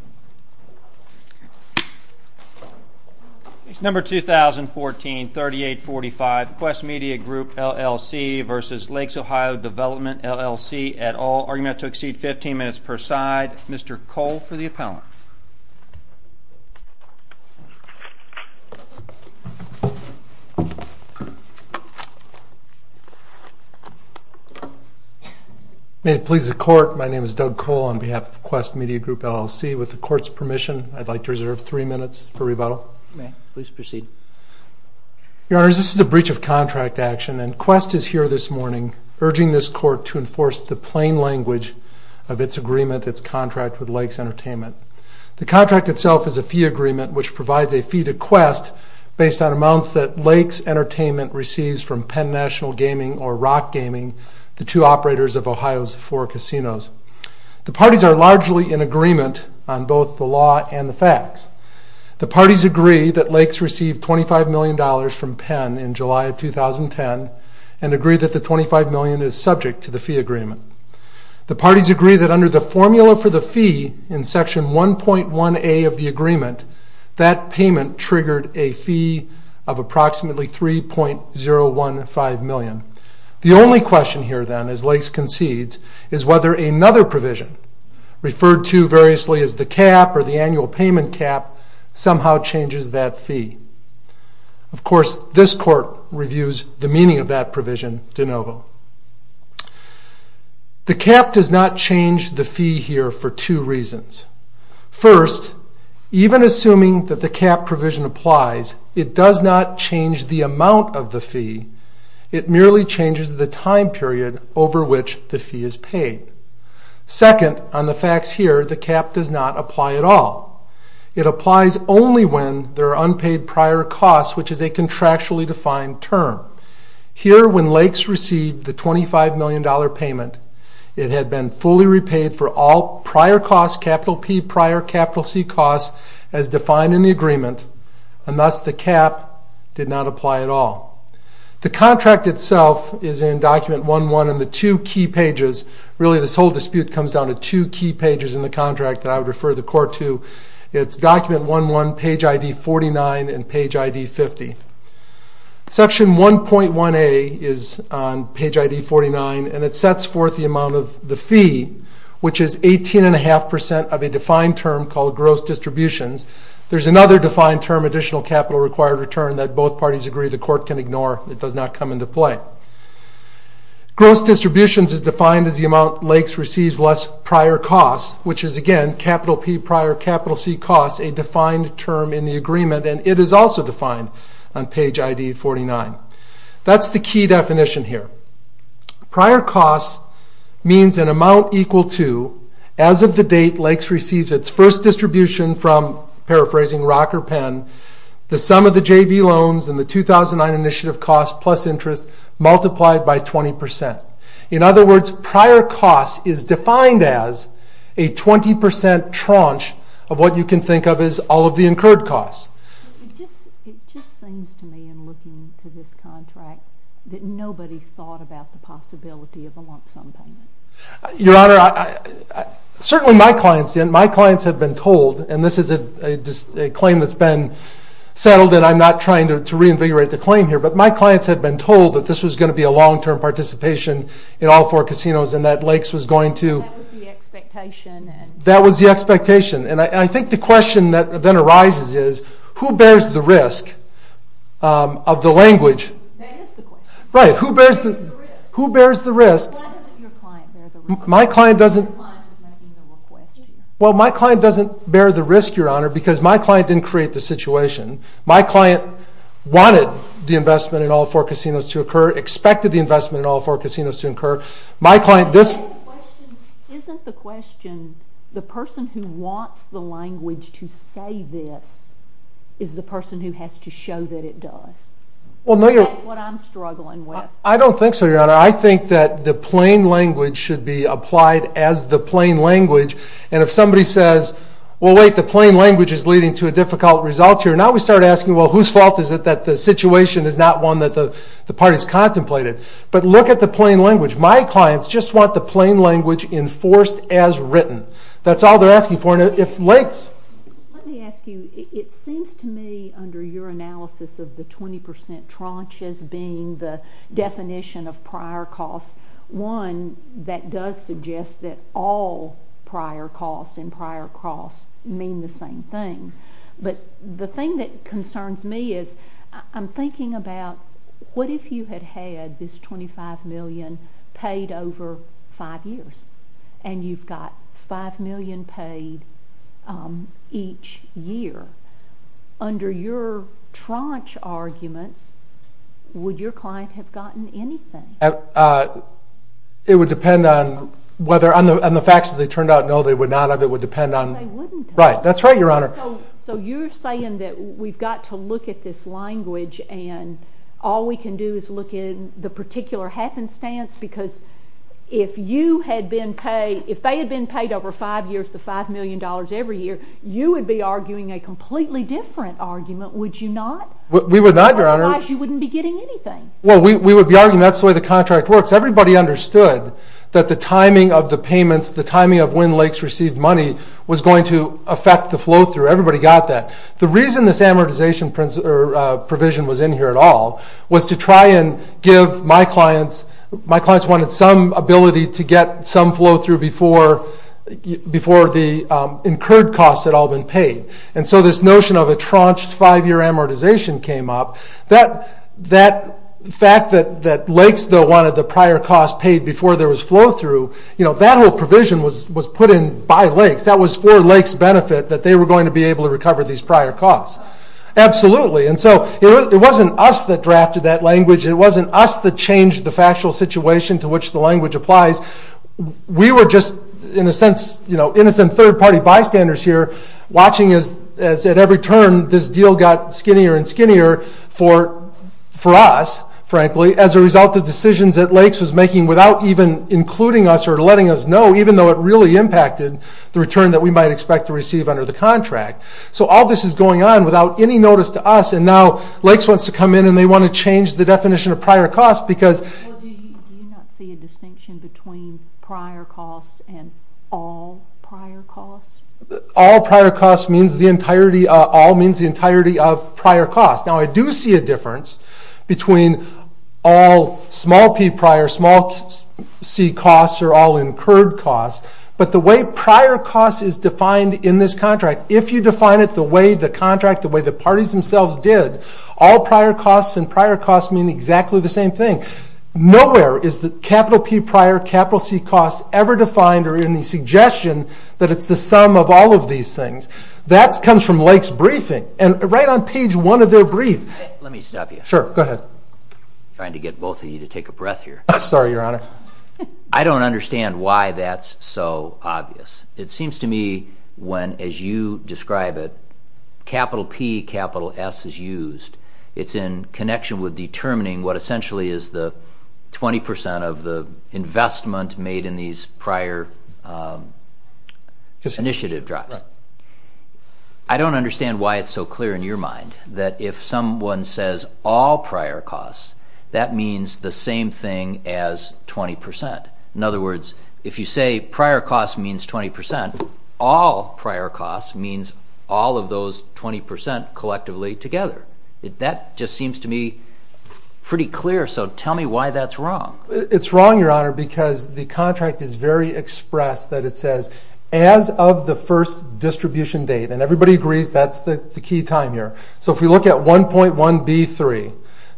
LLC at all. Argument to exceed 15 minutes per side. Mr. Cole for the appellant. May it please the Court, my name is Doug Cole on behalf of Quest Media Group LLC. With the Court's permission, I'd like to reserve three minutes for rebuttal. May it please proceed. Your Honors, this is a breach of contract action and Quest is here this morning urging this Court to enforce the plain language of its agreement, its contract with Lakes Entertainment. The contract itself is a fee agreement which provides a fee to Quest based on amounts that Lakes Entertainment receives from Penn National Gaming or Rock Gaming, the two operators of Ohio's four casinos. The parties are largely in agreement on both the law and the facts. The parties agree that Lakes received $25 million from Penn in July of 2010 and agree that the $25 million is subject to the fee agreement. The parties agree that under the formula for the fee in Section 1.1A of the agreement, that payment triggered a fee of approximately $3.015 million. The only question here then, as Lakes concedes, is whether another provision, referred to variously as the cap or the annual payment cap, somehow changes that fee. Of course, this Court reviews the meaning of that provision de novo. The cap does not change the fee here for two reasons. First, even assuming that the cap provision applies, it does not change the amount of the fee. It merely changes the time period over which the fee is paid. Second, on the facts here, the cap does not apply at all. It applies only when there are unpaid prior costs, which is a contractually defined term. Here, when Lakes received the $25 million payment, it had been fully repaid for all prior costs, capital P, prior capital C costs as defined in the agreement and thus the cap did not apply at all. The contract itself is in Document 11 in the two key pages. Really, this whole dispute comes down to two key pages in the contract that I would refer the Court to. It's Document 11, Page ID 49, and Page ID 50. Section 1.1a is on Page ID 49, and it sets forth the amount of the fee, which is 18.5% of a defined term called gross distributions. There's another defined term, additional capital required return, that both parties agree the Court can ignore. It does not come into play. Gross distributions is defined as the amount Lakes receives less prior costs, which is again, capital P, prior capital C costs, a defined term in the agreement, and it is also defined on Page ID 49. That's the key definition here. Prior costs means an amount equal to, as of the date Lakes receives its first distribution from, paraphrasing Rocker Penn, the sum of the JV loans and the 2009 initiative costs plus interest multiplied by 20%. In other words, prior costs is defined as a 20% tranche of what you can think of as all of the incurred costs. It just seems to me, in looking to this contract, that nobody thought about the possibility of a lump sum payment. Your Honor, certainly my clients didn't. My clients have been told, and this is a claim that's been settled, and I'm not trying to reinvigorate the claim here, but my clients have been told that this was going to be a long-term participation in all four casinos, and that Lakes was going to... That was the expectation. That was the expectation, and I think the question that then arises is, who bears the risk of the language? That is the question. Right, who bears the risk? Why doesn't your client bear the risk? Well, my client doesn't bear the risk, Your Honor, because my client didn't create the situation. My client wanted the investment in all four casinos to occur, expected the investment in all four casinos to occur. Isn't the question, the person who wants the language to say this is the person who has to show that it does? That's what I'm struggling with. I don't think so, Your Honor. I think that the plain language should be applied as the plain language, and if somebody says, well, wait, the plain language is leading to a difficult result here, now we start asking, well, whose fault is it that the situation is not one that the parties contemplated? But look at the plain language. My clients just want the plain language enforced as written. That's all they're asking for, and if Lakes... Let me ask you, it seems to me under your analysis of the 20% tranche as being the one that does suggest that all prior costs and prior costs mean the same thing, but the thing that concerns me is I'm thinking about what if you had had this $25 million paid over five years, and you've got $5 million paid each year? Under your tranche arguments, would your client have it would depend on whether... On the facts that they turned out, no, they would not have. It would depend on... They wouldn't have. Right, that's right, Your Honor. So you're saying that we've got to look at this language, and all we can do is look in the particular happenstance, because if you had been paid... If they had been paid over five years the $5 million every year, you would be arguing a completely different argument, would you not? We would not, Your Honor. Otherwise, you wouldn't be getting anything. Well, we would be arguing that's the way the contract works. Everybody understood that the timing of the payments, the timing of when lakes received money was going to affect the flow-through. Everybody got that. The reason this amortization provision was in here at all was to try and give my clients... My clients wanted some ability to get some flow-through before the incurred costs had all been paid, and so this notion of a tranched five-year amortization came up. That fact that lakes, though, wanted the prior costs paid before there was flow-through, that whole provision was put in by lakes. That was for lakes' benefit that they were going to be able to recover these prior costs. Absolutely, and so it wasn't us that drafted that language. It wasn't us that changed the factual situation to which the language applies. We were just, in a sense, innocent third-party bystanders here watching as, at every turn, this deal got skinnier and skinnier for us, frankly, as a result of decisions that lakes was making without even including us or letting us know, even though it really impacted the return that we might expect to receive under the contract. So all this is going on without any notice to us, and now lakes wants to come in and they want to change the definition of prior costs because... Do you not see a distinction between prior costs and all prior costs? All prior costs means the entirety of prior costs. Now I do see a difference between all small p prior, small c costs, or all incurred costs, but the way prior costs is defined in this contract, if you define it the way the contract, the way the parties themselves did, all prior costs and prior costs mean exactly the same thing. Nowhere is the capital P prior, capital C costs ever defined or in the suggestion that it's the sum of all of these things. That comes from lakes briefing, and right on page one of their briefing... Let me stop you. Sure, go ahead. I'm trying to get both of you to take a breath here. Sorry, your honor. I don't understand why that's so obvious. It seems to me when, as you describe it, capital P, capital S is used. It's in connection with determining what essentially is the 20% of the investment made in these prior initiative drops. I don't understand why it's so clear in your mind that if someone says all prior costs, that means the same thing as 20%. In other words, if you say prior costs means 20%, all prior costs means all of those 20% collectively together. That just seems to me pretty clear, so tell me why that's wrong. It's wrong, your honor, because the contract is very expressed that it says, as of the first distribution date, and everybody agrees that's the key time here. If we look at 1.1b3,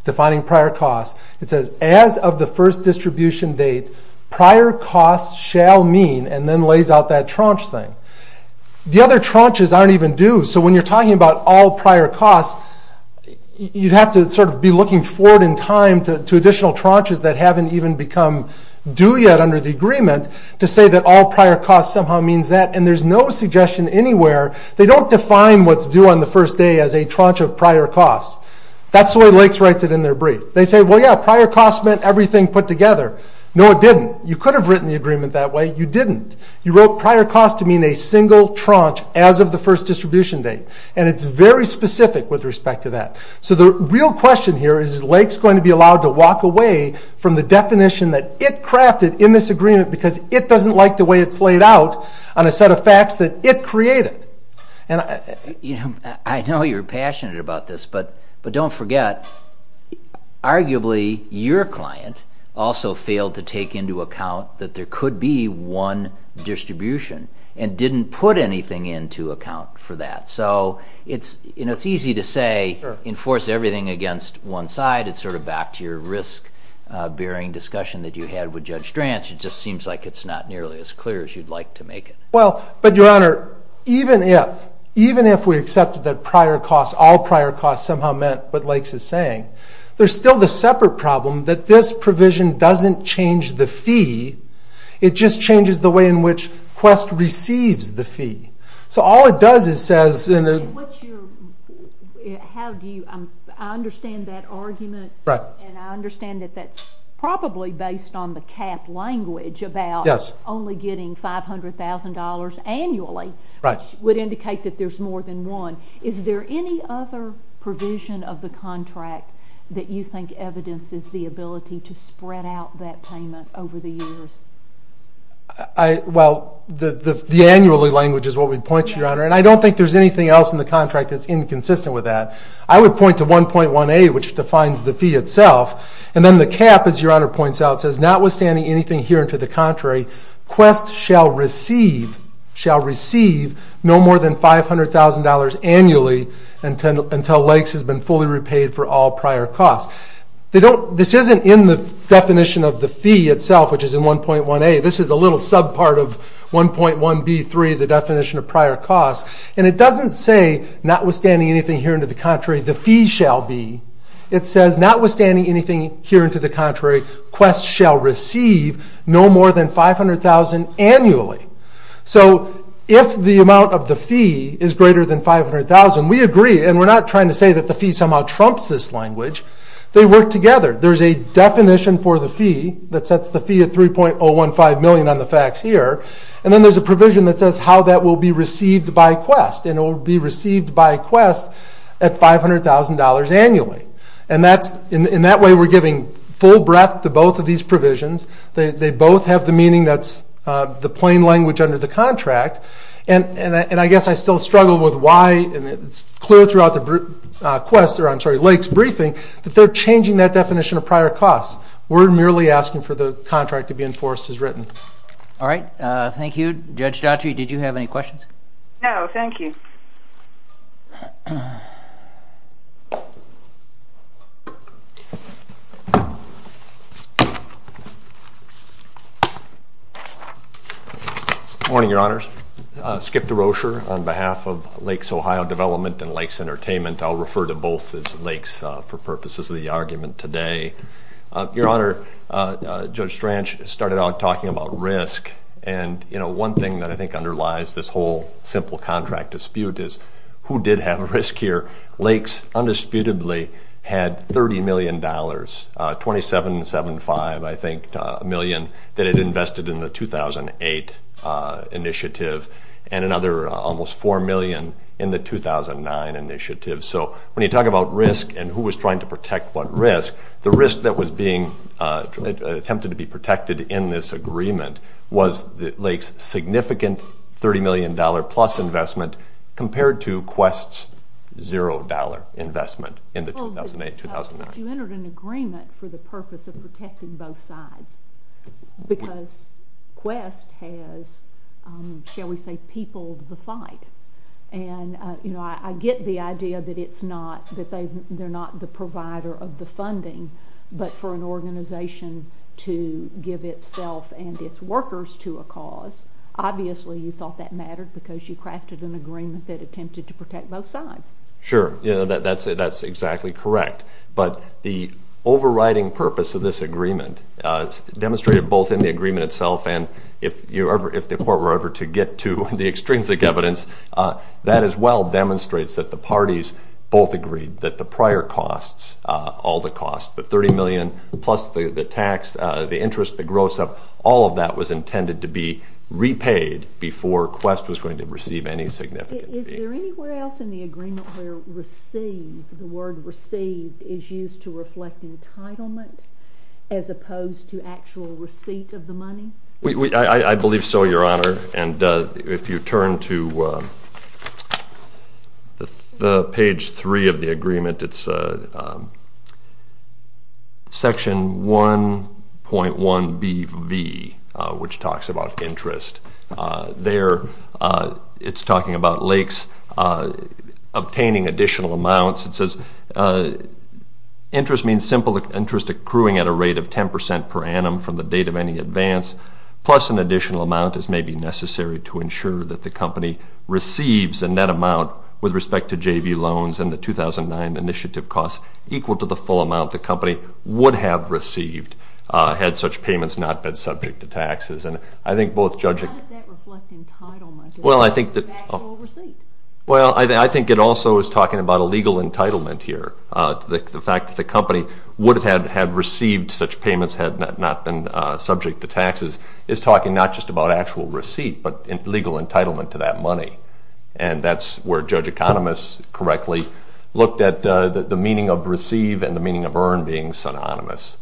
defining prior costs, it says, as of the first distribution date, prior costs shall mean, and then lays out that tranche thing. The other tranches aren't even due, so when you're talking about all prior costs, you'd have to be looking forward in time to additional tranches that haven't even become due yet under the agreement to say that all prior costs somehow means that, and there's no suggestion anywhere. They don't define what's due on the first day as a tranche of prior costs. That's the way Lakes writes it in their brief. They say, well yeah, prior costs meant everything put together. No it didn't. You could have written the agreement that way. You didn't. You wrote prior costs to mean a single tranche as of the first distribution date, and it's very specific with respect to that. So the real question here is, is Lakes going to be allowed to walk away from the definition that it crafted in this agreement because it doesn't like the way it played out on a set of facts that it created? I know you're passionate about this, but don't forget, arguably your client also failed to take into account that there could be one distribution, and didn't put anything into account for that. So it's easy to say, enforce everything against one side. It's sort of back to your risk-bearing discussion that you had with Judge Stranch. It just seems like it's not nearly as clear as you'd like to make it. Well, but your honor, even if we accepted that all prior costs somehow meant what Lakes is saying, there's still the separate problem that this provision doesn't change the fee. It just changes the way in which Quest receives the fee. So all it does is says... I understand that argument, and I understand that that's probably based on the cap language about only getting $500,000 annually, which would indicate that there's more than one. Is there any other provision of the contract that you think evidences the ability to spread out that payment over the years? Well, the annually language is what we find in the contract that's inconsistent with that. I would point to 1.1a, which defines the fee itself, and then the cap, as your honor points out, says notwithstanding anything here unto the contrary, Quest shall receive no more than $500,000 annually until Lakes has been fully repaid for all prior costs. This isn't in the definition of the fee itself, which is in 1.1a. This is a little sub-part of 1.1b.3, the definition of notwithstanding anything here unto the contrary, the fee shall be... it says notwithstanding anything here unto the contrary, Quest shall receive no more than $500,000 annually. If the amount of the fee is greater than $500,000, we agree, and we're not trying to say that the fee somehow trumps this language. They work together. There's a definition for the fee that sets the fee at $3.015 million on the fax here, and then there's a provision that says how that will be received by Quest at $500,000 annually. In that way, we're giving full breadth to both of these provisions. They both have the meaning that's the plain language under the contract, and I guess I still struggle with why, and it's clear throughout Lake's briefing that they're changing that definition of prior costs. We're merely asking for the contract to be enforced as written. All right. Thank you. Judge Dottry, did you have any questions? No. Thank you. Good morning, Your Honors. Skip DeRocher on behalf of Lakes Ohio Development and Lakes Entertainment. I'll refer to both as Lakes for purposes of the argument today. Your Honor, Judge Stranch started out talking about risk, and one thing that I think underlies this whole simple contract dispute is who did have a risk here? Lakes undisputably had $30 million, $27.75 I think million that it invested in the 2008 initiative and another almost $4 million in the 2009 initiative. So when you talk about risk and who was trying to protect what risk, the risk that was being attempted to be protected in this Lake's significant $30 million plus investment compared to Quest's $0 investment in the 2008-2009. But you entered an agreement for the purpose of protecting both sides because Quest has, shall we say, peopled the fight. And, you know, I get the idea that it's not, that they're not the provider of the funding but for an organization to give itself and its workers to a cause, obviously you thought that mattered because you crafted an agreement that attempted to protect both sides. Sure, that's exactly correct. But the overriding purpose of this agreement demonstrated both in the agreement itself and if the Court were ever to get to the extrinsic evidence, that as well demonstrates that the parties both agreed that the prior costs, all the costs, the $30 million plus the tax, the interest, the gross up, all of that was intended to be repaid before Quest was going to receive any significant fee. Is there anywhere else in the agreement where receive, the word receive is used to reflect entitlement as opposed to actual receipt of the money? I believe so, Your Honor, and if you turn to the page 3 of the agreement, it's section 1.1BV which talks about interest. There it's talking about Lakes obtaining additional amounts. It says interest means simple interest accruing at a rate of 10% per annum from the date of any advance plus an additional amount as may be necessary to ensure that the company receives a net amount with respect to JV loans and the 2009 initiative costs equal to the full amount the company would have received had such payments not been subject to taxes. How does that reflect entitlement as opposed to actual receipt? I think it also is talking about a legal entitlement here. The fact that the company would have received such payments had it not been subject to taxes is talking not just about actual receipt but legal entitlement to that money. And that's where Judge Economist correctly looked at the meaning of receive and the meaning of earn being synonymous.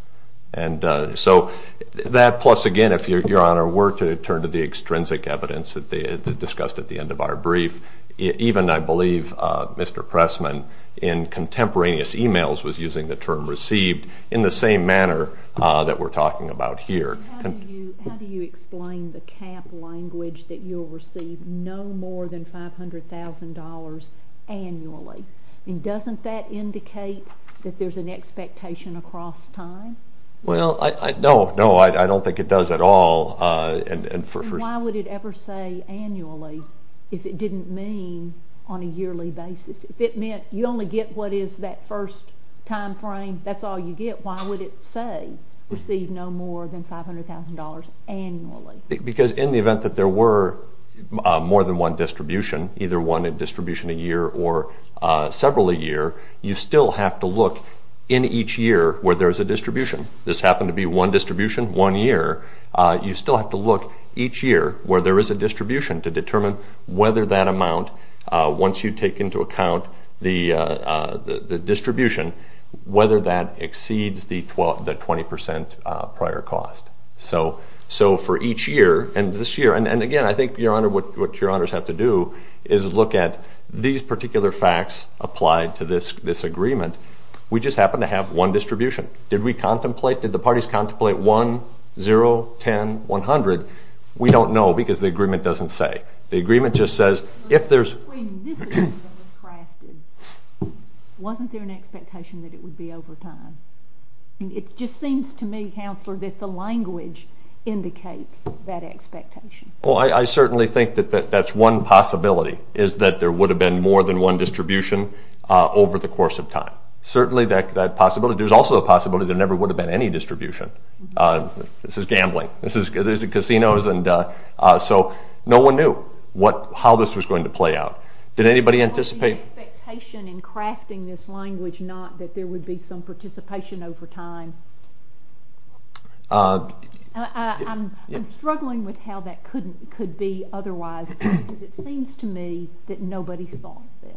And so that plus again if Your Honor were to turn to the extrinsic evidence discussed at the end of our brief, even I believe Mr. Pressman in contemporaneous emails was using the term received in the same manner that we're talking about here. How do you explain the cap language that you'll receive no more than $500,000 annually? And doesn't that indicate that there's an expectation across time? No, I don't think it does at all. Why would it ever say annually if it didn't mean on a yearly basis? If it meant you only get what is that first time frame, that's all you get, why would it say receive no more than $500,000 annually? Because in the event that there were more than one distribution, either one distribution a year or several a year, you still have to look in each year where there's a distribution. This happened to be one distribution one year. You still have to look each year where there is a distribution to determine whether that amount, once you take into account the distribution, whether that exceeds the 20% prior cost. So for each year and this year, and again I think what your honors have to do is look at these particular facts applied to this agreement. We just happen to have one distribution. Did we contemplate, did the parties contemplate 1, 0, 10, 100? We don't know because the agreement doesn't say. The agreement just says if there's... Wasn't there an expectation that it would be over time? It just seems to me, Counselor, that the language indicates that expectation. Well I certainly think that that's one possibility is that there would have been more than one distribution over the course of time. Certainly that possibility, there's also a possibility there never would have been any distribution. This is gambling. This is casinos and so no one knew how this was going to play out. Did anybody anticipate... Was the expectation in crafting this language not that there would be some participation over time? I'm struggling with how that could be otherwise because it seems to me that nobody thought this.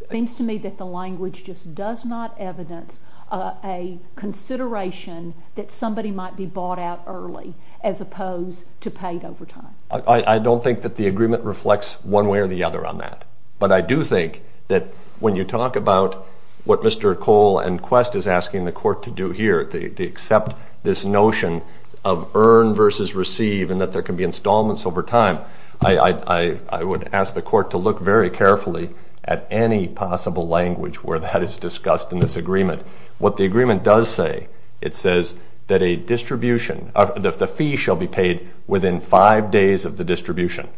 It seems to me that the language just does not evidence a consideration that somebody might be bought out early as opposed to paid overtime. I don't think that the agreement reflects one way or the other on that, but I do think that when you talk about what Mr. Cole and others have said, they accept this notion of earn versus receive and that there can be installments over time. I would ask the court to look very carefully at any possible language where that is discussed in this agreement. What the agreement does say, it says that a distribution, the fee shall be paid within five days of the distribution.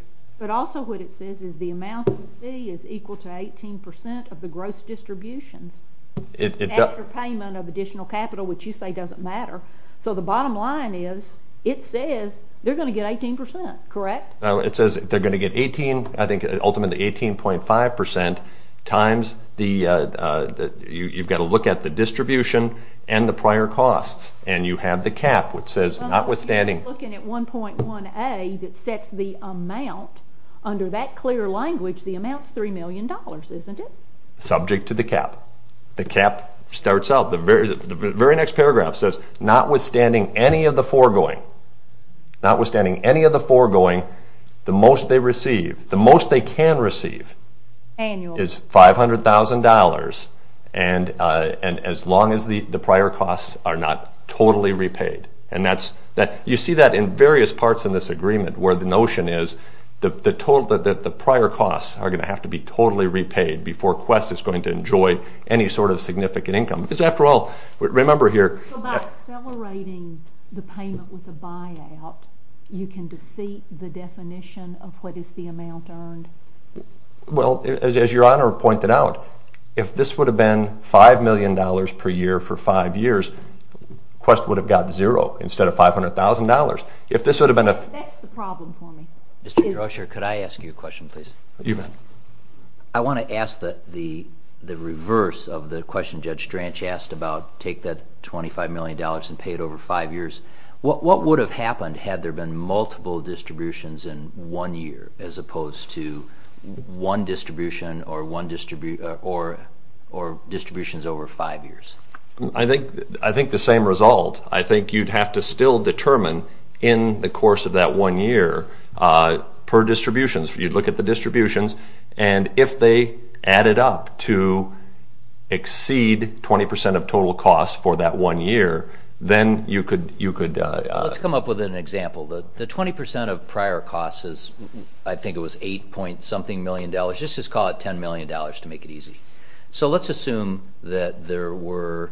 But also what it says is the amount of the fee is equal to 18% of the gross distribution after payment of additional capital, which you say doesn't matter. So the bottom line is, it says they're going to get 18%, correct? It says they're going to get 18, I think ultimately 18.5% times the, you've got to look at the distribution and the prior costs. And you have the cap, which says notwithstanding... You're looking at 1.1a that sets the amount under that clear language, the amount is $3 million, isn't it? Subject to the cap. The cap starts out, the very next paragraph says, notwithstanding any of the foregoing, notwithstanding any of the foregoing, the most they receive, the most they can receive is $500,000 and as long as the prior costs are not totally repaid. And you see that in various parts of this agreement where the notion is that the prior costs are going to have to be totally repaid before Quest is going to enjoy any sort of significant income. Because after all, remember here... So by accelerating the payment with a buyout, you can defeat the definition of what is the amount earned? Well, as Your Honor pointed out, if this would have been $5 million per year for five years, Quest would have got zero instead of $500,000. If this would have been a... That's the problem for me. Mr. Drescher, could I ask you a question, please? You may. I want to ask the reverse of the question Judge Stranch asked about take that $25 million and pay it over five years. What would have happened had there been multiple distributions in one year as opposed to one distribution or distributions over five years? I think the same result. I think you'd have to still determine in the budget per distributions. You'd look at the distributions and if they added up to exceed 20% of total costs for that one year, then you could... Let's come up with an example. The 20% of prior costs is, I think it was $8.something million. Let's just call it $10 million to make it easy. So let's assume that there were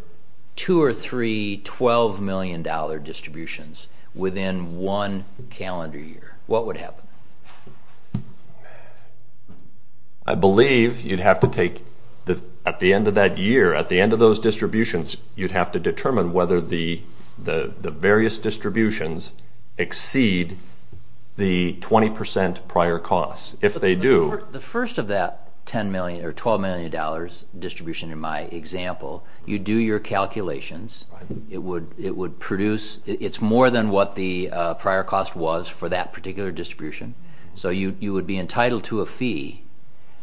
two or three $12 million distributions within one calendar year. What would happen? I believe you'd have to take... At the end of that year, at the end of those distributions, you'd have to determine whether the various distributions exceed the 20% prior costs. If they do... The first of that $12 million distribution in my example, you do your calculations. It would produce... It's more than what the prior cost was for that particular distribution. You would be entitled to a fee,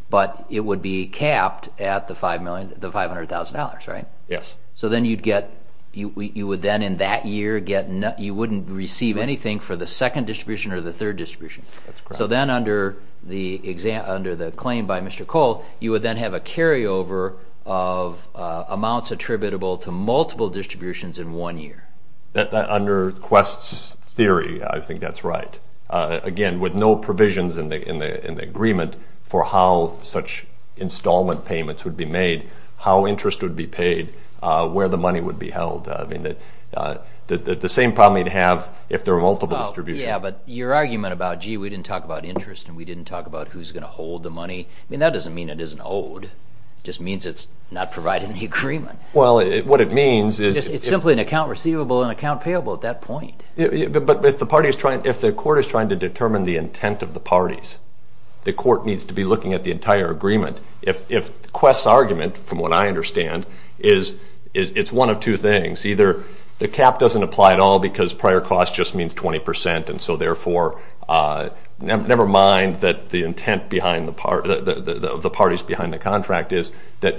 but it would be capped at the $500,000, right? Yes. You would then in that year get... You wouldn't receive anything for the second distribution or the third distribution. That's correct. So then under the claim by Mr. Cole, you would then have a carryover of amounts attributable to multiple distributions in one calendar year. Under Quest's theory, I think that's right. Again, with no provisions in the agreement for how such installment payments would be made, how interest would be paid, where the money would be held. The same problem you'd have if there were multiple distributions. Your argument about, gee, we didn't talk about interest and we didn't talk about who's going to hold the money, that doesn't mean it isn't owed. It just means it's not provided in the agreement. Well, what it means is... It's simply an account receivable and an account payable at that point. But if the court is trying to determine the intent of the parties, the court needs to be looking at the entire agreement. If Quest's argument, from what I understand, is one of two things. Either the cap doesn't apply at all because prior cost just means 20%, and so therefore, never mind that the intent of the parties behind the contract is that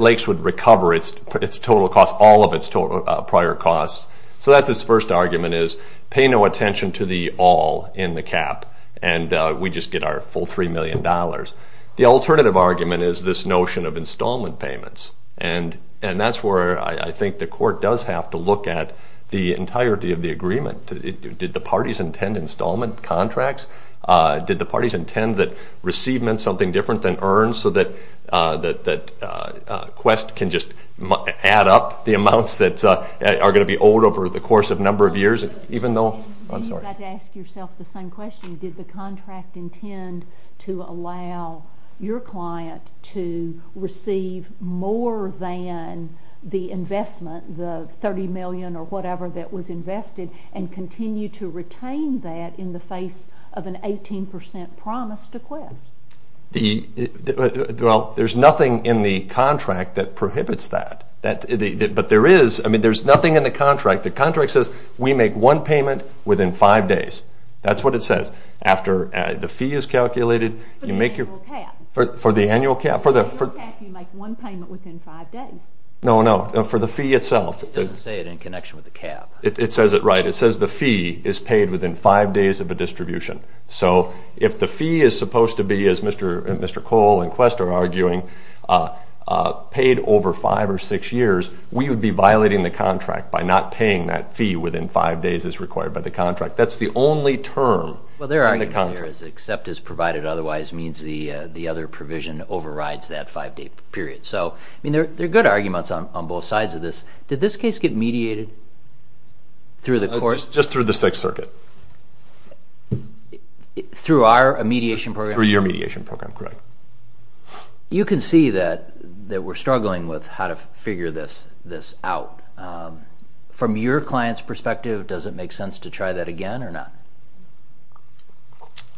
Lakes would recover all of its prior costs. So that's its first argument, is pay no attention to the all in the cap, and we just get our full $3 million. The alternative argument is this notion of installment payments. And that's where I think the court does have to look at the entirety of the agreement. Did the parties intend installment contracts? Did the parties intend that receive meant something different than earned so that Quest can just add up the amounts that are going to be owed over the course of a number of years, even though... I'm sorry. You've got to ask yourself the same question. Did the contract intend to allow your client to receive more than the investment, the $30 million or whatever that was invested, and continue to retain that in the face of an 18% promise to Quest? Well, there's nothing in the contract that prohibits that. But there is. I mean, there's nothing in the contract. The contract says we make one payment within five days. That's what it says. After the fee is calculated, you make your... For the annual cap? For the annual cap, you make one payment within five days. No, no. For the fee itself. It doesn't say it in connection with the cap. It says it right. It says the fee is paid within five days of a distribution. So if the fee is supposed to be, as Mr. Cole and Quest are arguing, paid over five or six years, we would be violating the contract by not paying that fee within five days as required by the contract. That's the only term in the contract. Except as provided otherwise means the other provision overrides that five-day period. So there are good arguments on both sides of this. Did this case get mediated through the courts? Just through the Sixth Circuit? Through our mediation program? Through your mediation program, correct. You can see that we're struggling with how to figure this out. From your client's perspective, does it make sense to try that again or not?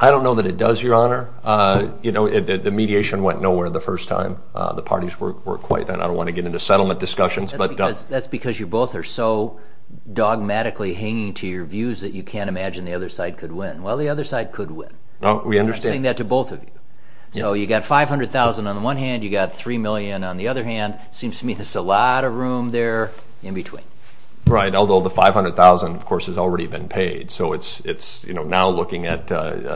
I don't know that it does, Your Honor. The mediation went nowhere the first time. The parties were quiet. I don't want to get into settlement discussions. That's because you both are so dogmatically hanging to your views that you can't imagine the other side could win. Well, the other side could win. We understand. I'm saying that to both of you. So you've got $500,000 on the one hand. You've got $3 million on the other hand. Seems to me there's a lot of room there in between. Right. Although the $500,000, of course, has already been paid. So it's now looking at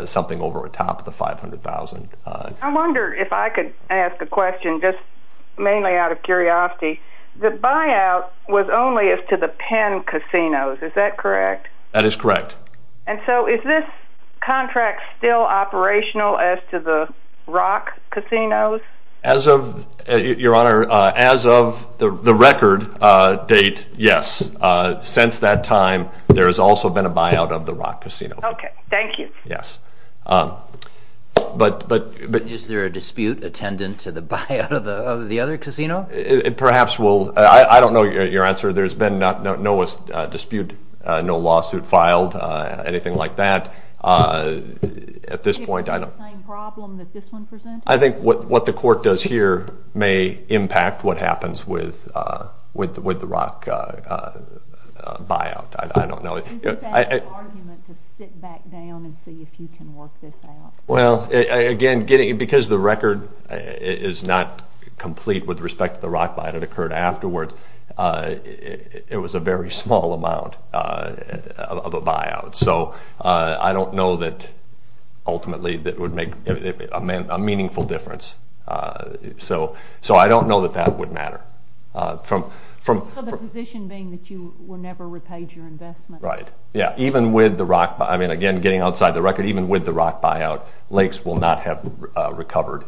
something over the top of the $500,000. I wonder if I could ask a question, just mainly out of curiosity. The buyout was only as to the Penn Casinos. Is that correct? That is correct. Is this contract still operational as to the Rock Casinos? Your Honor, as of the record date, yes. Since that time, there has also been a buyout of the Rock Casino. Okay. Thank you. Is there a dispute attendant to the buyout of the other casino? I don't know your answer. There's been no dispute, no lawsuit filed, anything like that. I think what the court does here may impact what happens with the Rock buyout. I don't know. Well, again, because the record is not complete with respect to the Rock buyout, and it occurred afterwards, it was a very small amount of a buyout. So I don't know that ultimately that would make a meaningful difference. So I don't know that that would matter. So the position being that you were never repaid your investment? Right. Again, getting outside the record, even with the Rock buyout, Lakes will not have recovered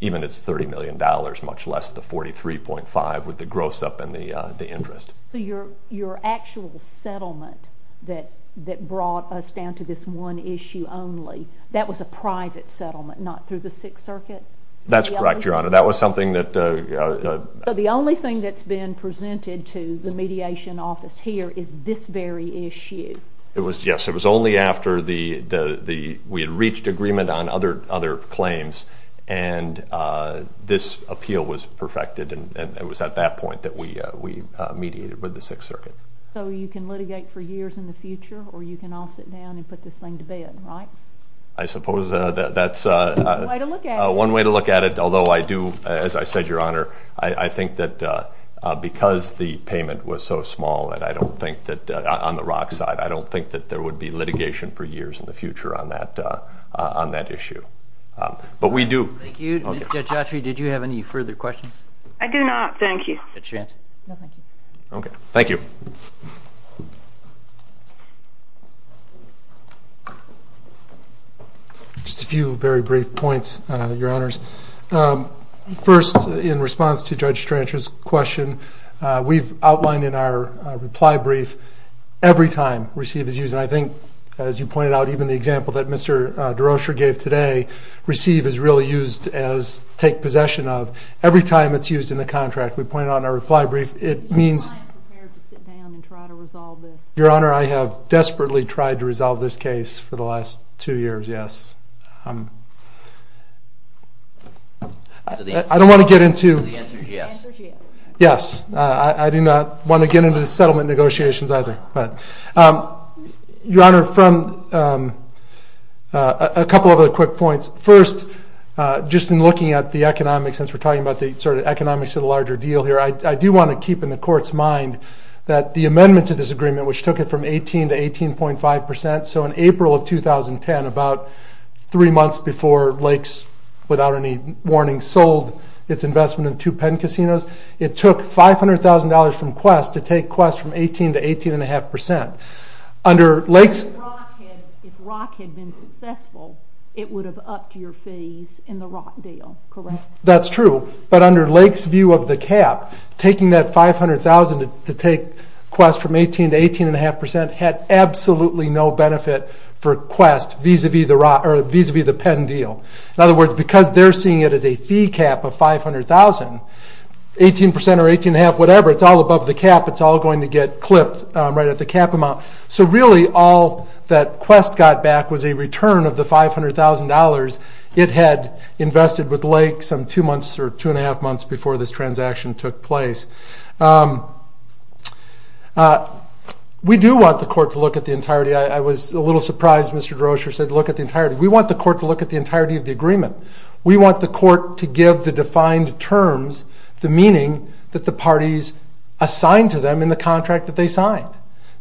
even its $30 million, much less the $43.5 million with the gross up and the interest. So your actual settlement that brought us down to this one issue only, that was a private settlement, not through the Sixth Circuit? That's correct, Your Honor. So the only thing that's been presented to the mediation office here is this very issue? Yes, it was only after we had reached agreement on other claims, and this appeal was perfected and it was at that point that we mediated with the Sixth Circuit. So you can litigate for years in the future, or you can all sit down and put this thing to bed, right? I suppose that's one way to look at it, although I do, as I said, Your Honor, I think that because the payment was so small that I don't think that on the Rock side, I don't think that there would be litigation for years in the future on that issue. But we do. Thank you. Judge Autry, did you have any further questions? I do not, thank you. Thank you. Just a few very brief points, Your Honors. First, in response to Judge Strancher's question, we've outlined in our reply brief every time receive is used, and I think, as you pointed out, even the example that Mr. DeRocher gave today, receive is really used as take possession of. Every time it's used in the contract, we point it out in our reply brief, it means... Your Honor, I have desperately tried to resolve this case for the last two years, yes. I don't want to get into... I do not want to get into the settlement negotiations either. Your Honor, from a couple of other quick points. First, just in looking at the economics, since we're talking about the economics of the larger deal here, I do want to keep in the Court's mind that the amendment to this agreement, which took it from 18 to 18.5%, so in April of 2010, about three months before Lakes, without any warning, sold its investment in two Penn casinos, it took $500,000 from Quest to take Quest from 18 to 18.5%. Under Lakes... If ROC had been successful, it would have upped your fees in the ROC deal, correct? That's true, but under Lakes' view of the cap, taking that $500,000 to take Quest from 18 to 18.5% had absolutely no benefit for Quest vis-a-vis the ROC, or vis-a-vis the Penn deal. In other words, because they're seeing it as a fee cap of $500,000, 18% or 18.5%, whatever, it's all above the cap, it's all going to get clipped right at the cap amount. So really, all that Quest got back was a return of the $500,000 it had invested with Lakes two months or two and a half months before this transaction took place. We do want the Court to look at the entirety. I was a little surprised Mr. Droscher said look at the entirety. We want the Court to look at the entirety of the agreement. We want the Court to give the defined terms the meaning that the parties assigned to them in the contract that they signed.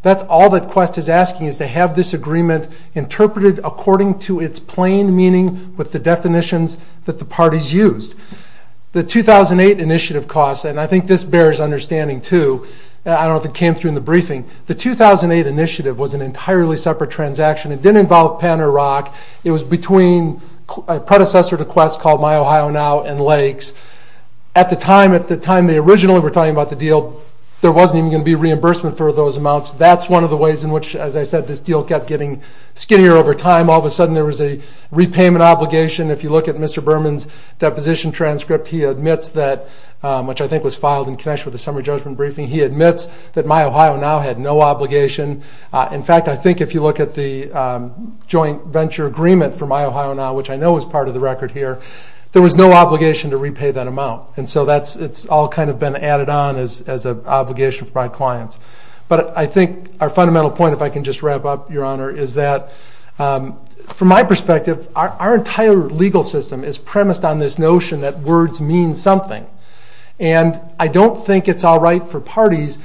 That's all that Quest is asking is to have this agreement interpreted according to its plain meaning with the definitions that the parties used. The 2008 initiative costs, and I think this bears understanding too, I don't know if it came through in the briefing, the 2008 initiative was an entirely separate transaction. It didn't involve Penn or ROC, it was between a predecessor to Quest called MyOhioNow and Lakes. At the time they originally were talking about the deal, there wasn't even going to be reimbursement for those amounts. That's one of the ways in which, as I said, this deal kept getting skinnier over time. All of a sudden there was a repayment obligation. If you look at Mr. Berman's deposition transcript, he admits that, which I think was filed in connection with the summary judgment briefing, he admits that MyOhioNow had no obligation. In fact I think if you look at the joint venture agreement for MyOhioNow which I know is part of the record here, there was no obligation to repay that amount. It's all kind of been added on as an obligation for my clients. I think our fundamental point, if I can just wrap up, Your Honor, is that, from my perspective, our entire legal system is premised on this notion that words mean something. I don't think it's alright for parties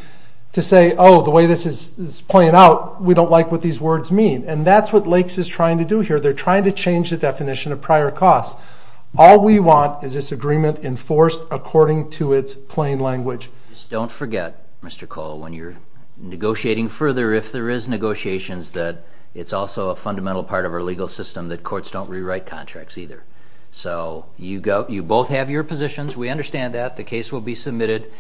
to say, oh, the way this is playing out, we don't like what these words mean. That's what Lakes is trying to do here. They're trying to change the definition of prior costs. All we want is this agreement enforced according to its plain language. Just don't forget, Mr. Cole, when you're negotiating further, if there is negotiations, that it's also a fundamental part of our legal system that courts don't rewrite contracts either. So you both have your positions. We understand that. The case will be submitted.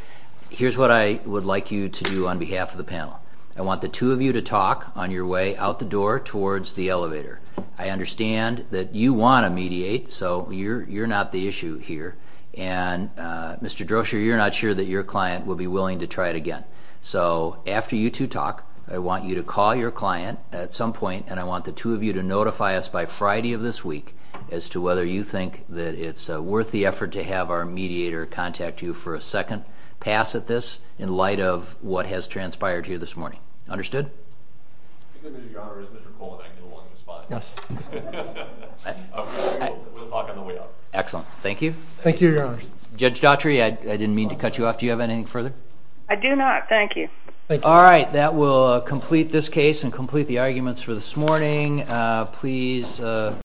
Here's what I would like you to do on behalf of the panel. I want the two of you to talk on your way out the door towards the elevator. I understand that you want to mediate, so you're not the issue here. Mr. Droscher, you're not sure that your client will be willing to try it again. After you two talk, I want you to call your client at some point, and I want the two of you to notify us by Friday of this week as to whether you think that it's worth the effort to have our mediator contact you for a second pass at this in light of what has transpired here this morning. Understood? Excellent. Thank you. Judge Daughtry, I didn't mean to cut you off. Do you have anything further? I do not. Thank you. All right. That will complete this case and complete the arguments for this morning.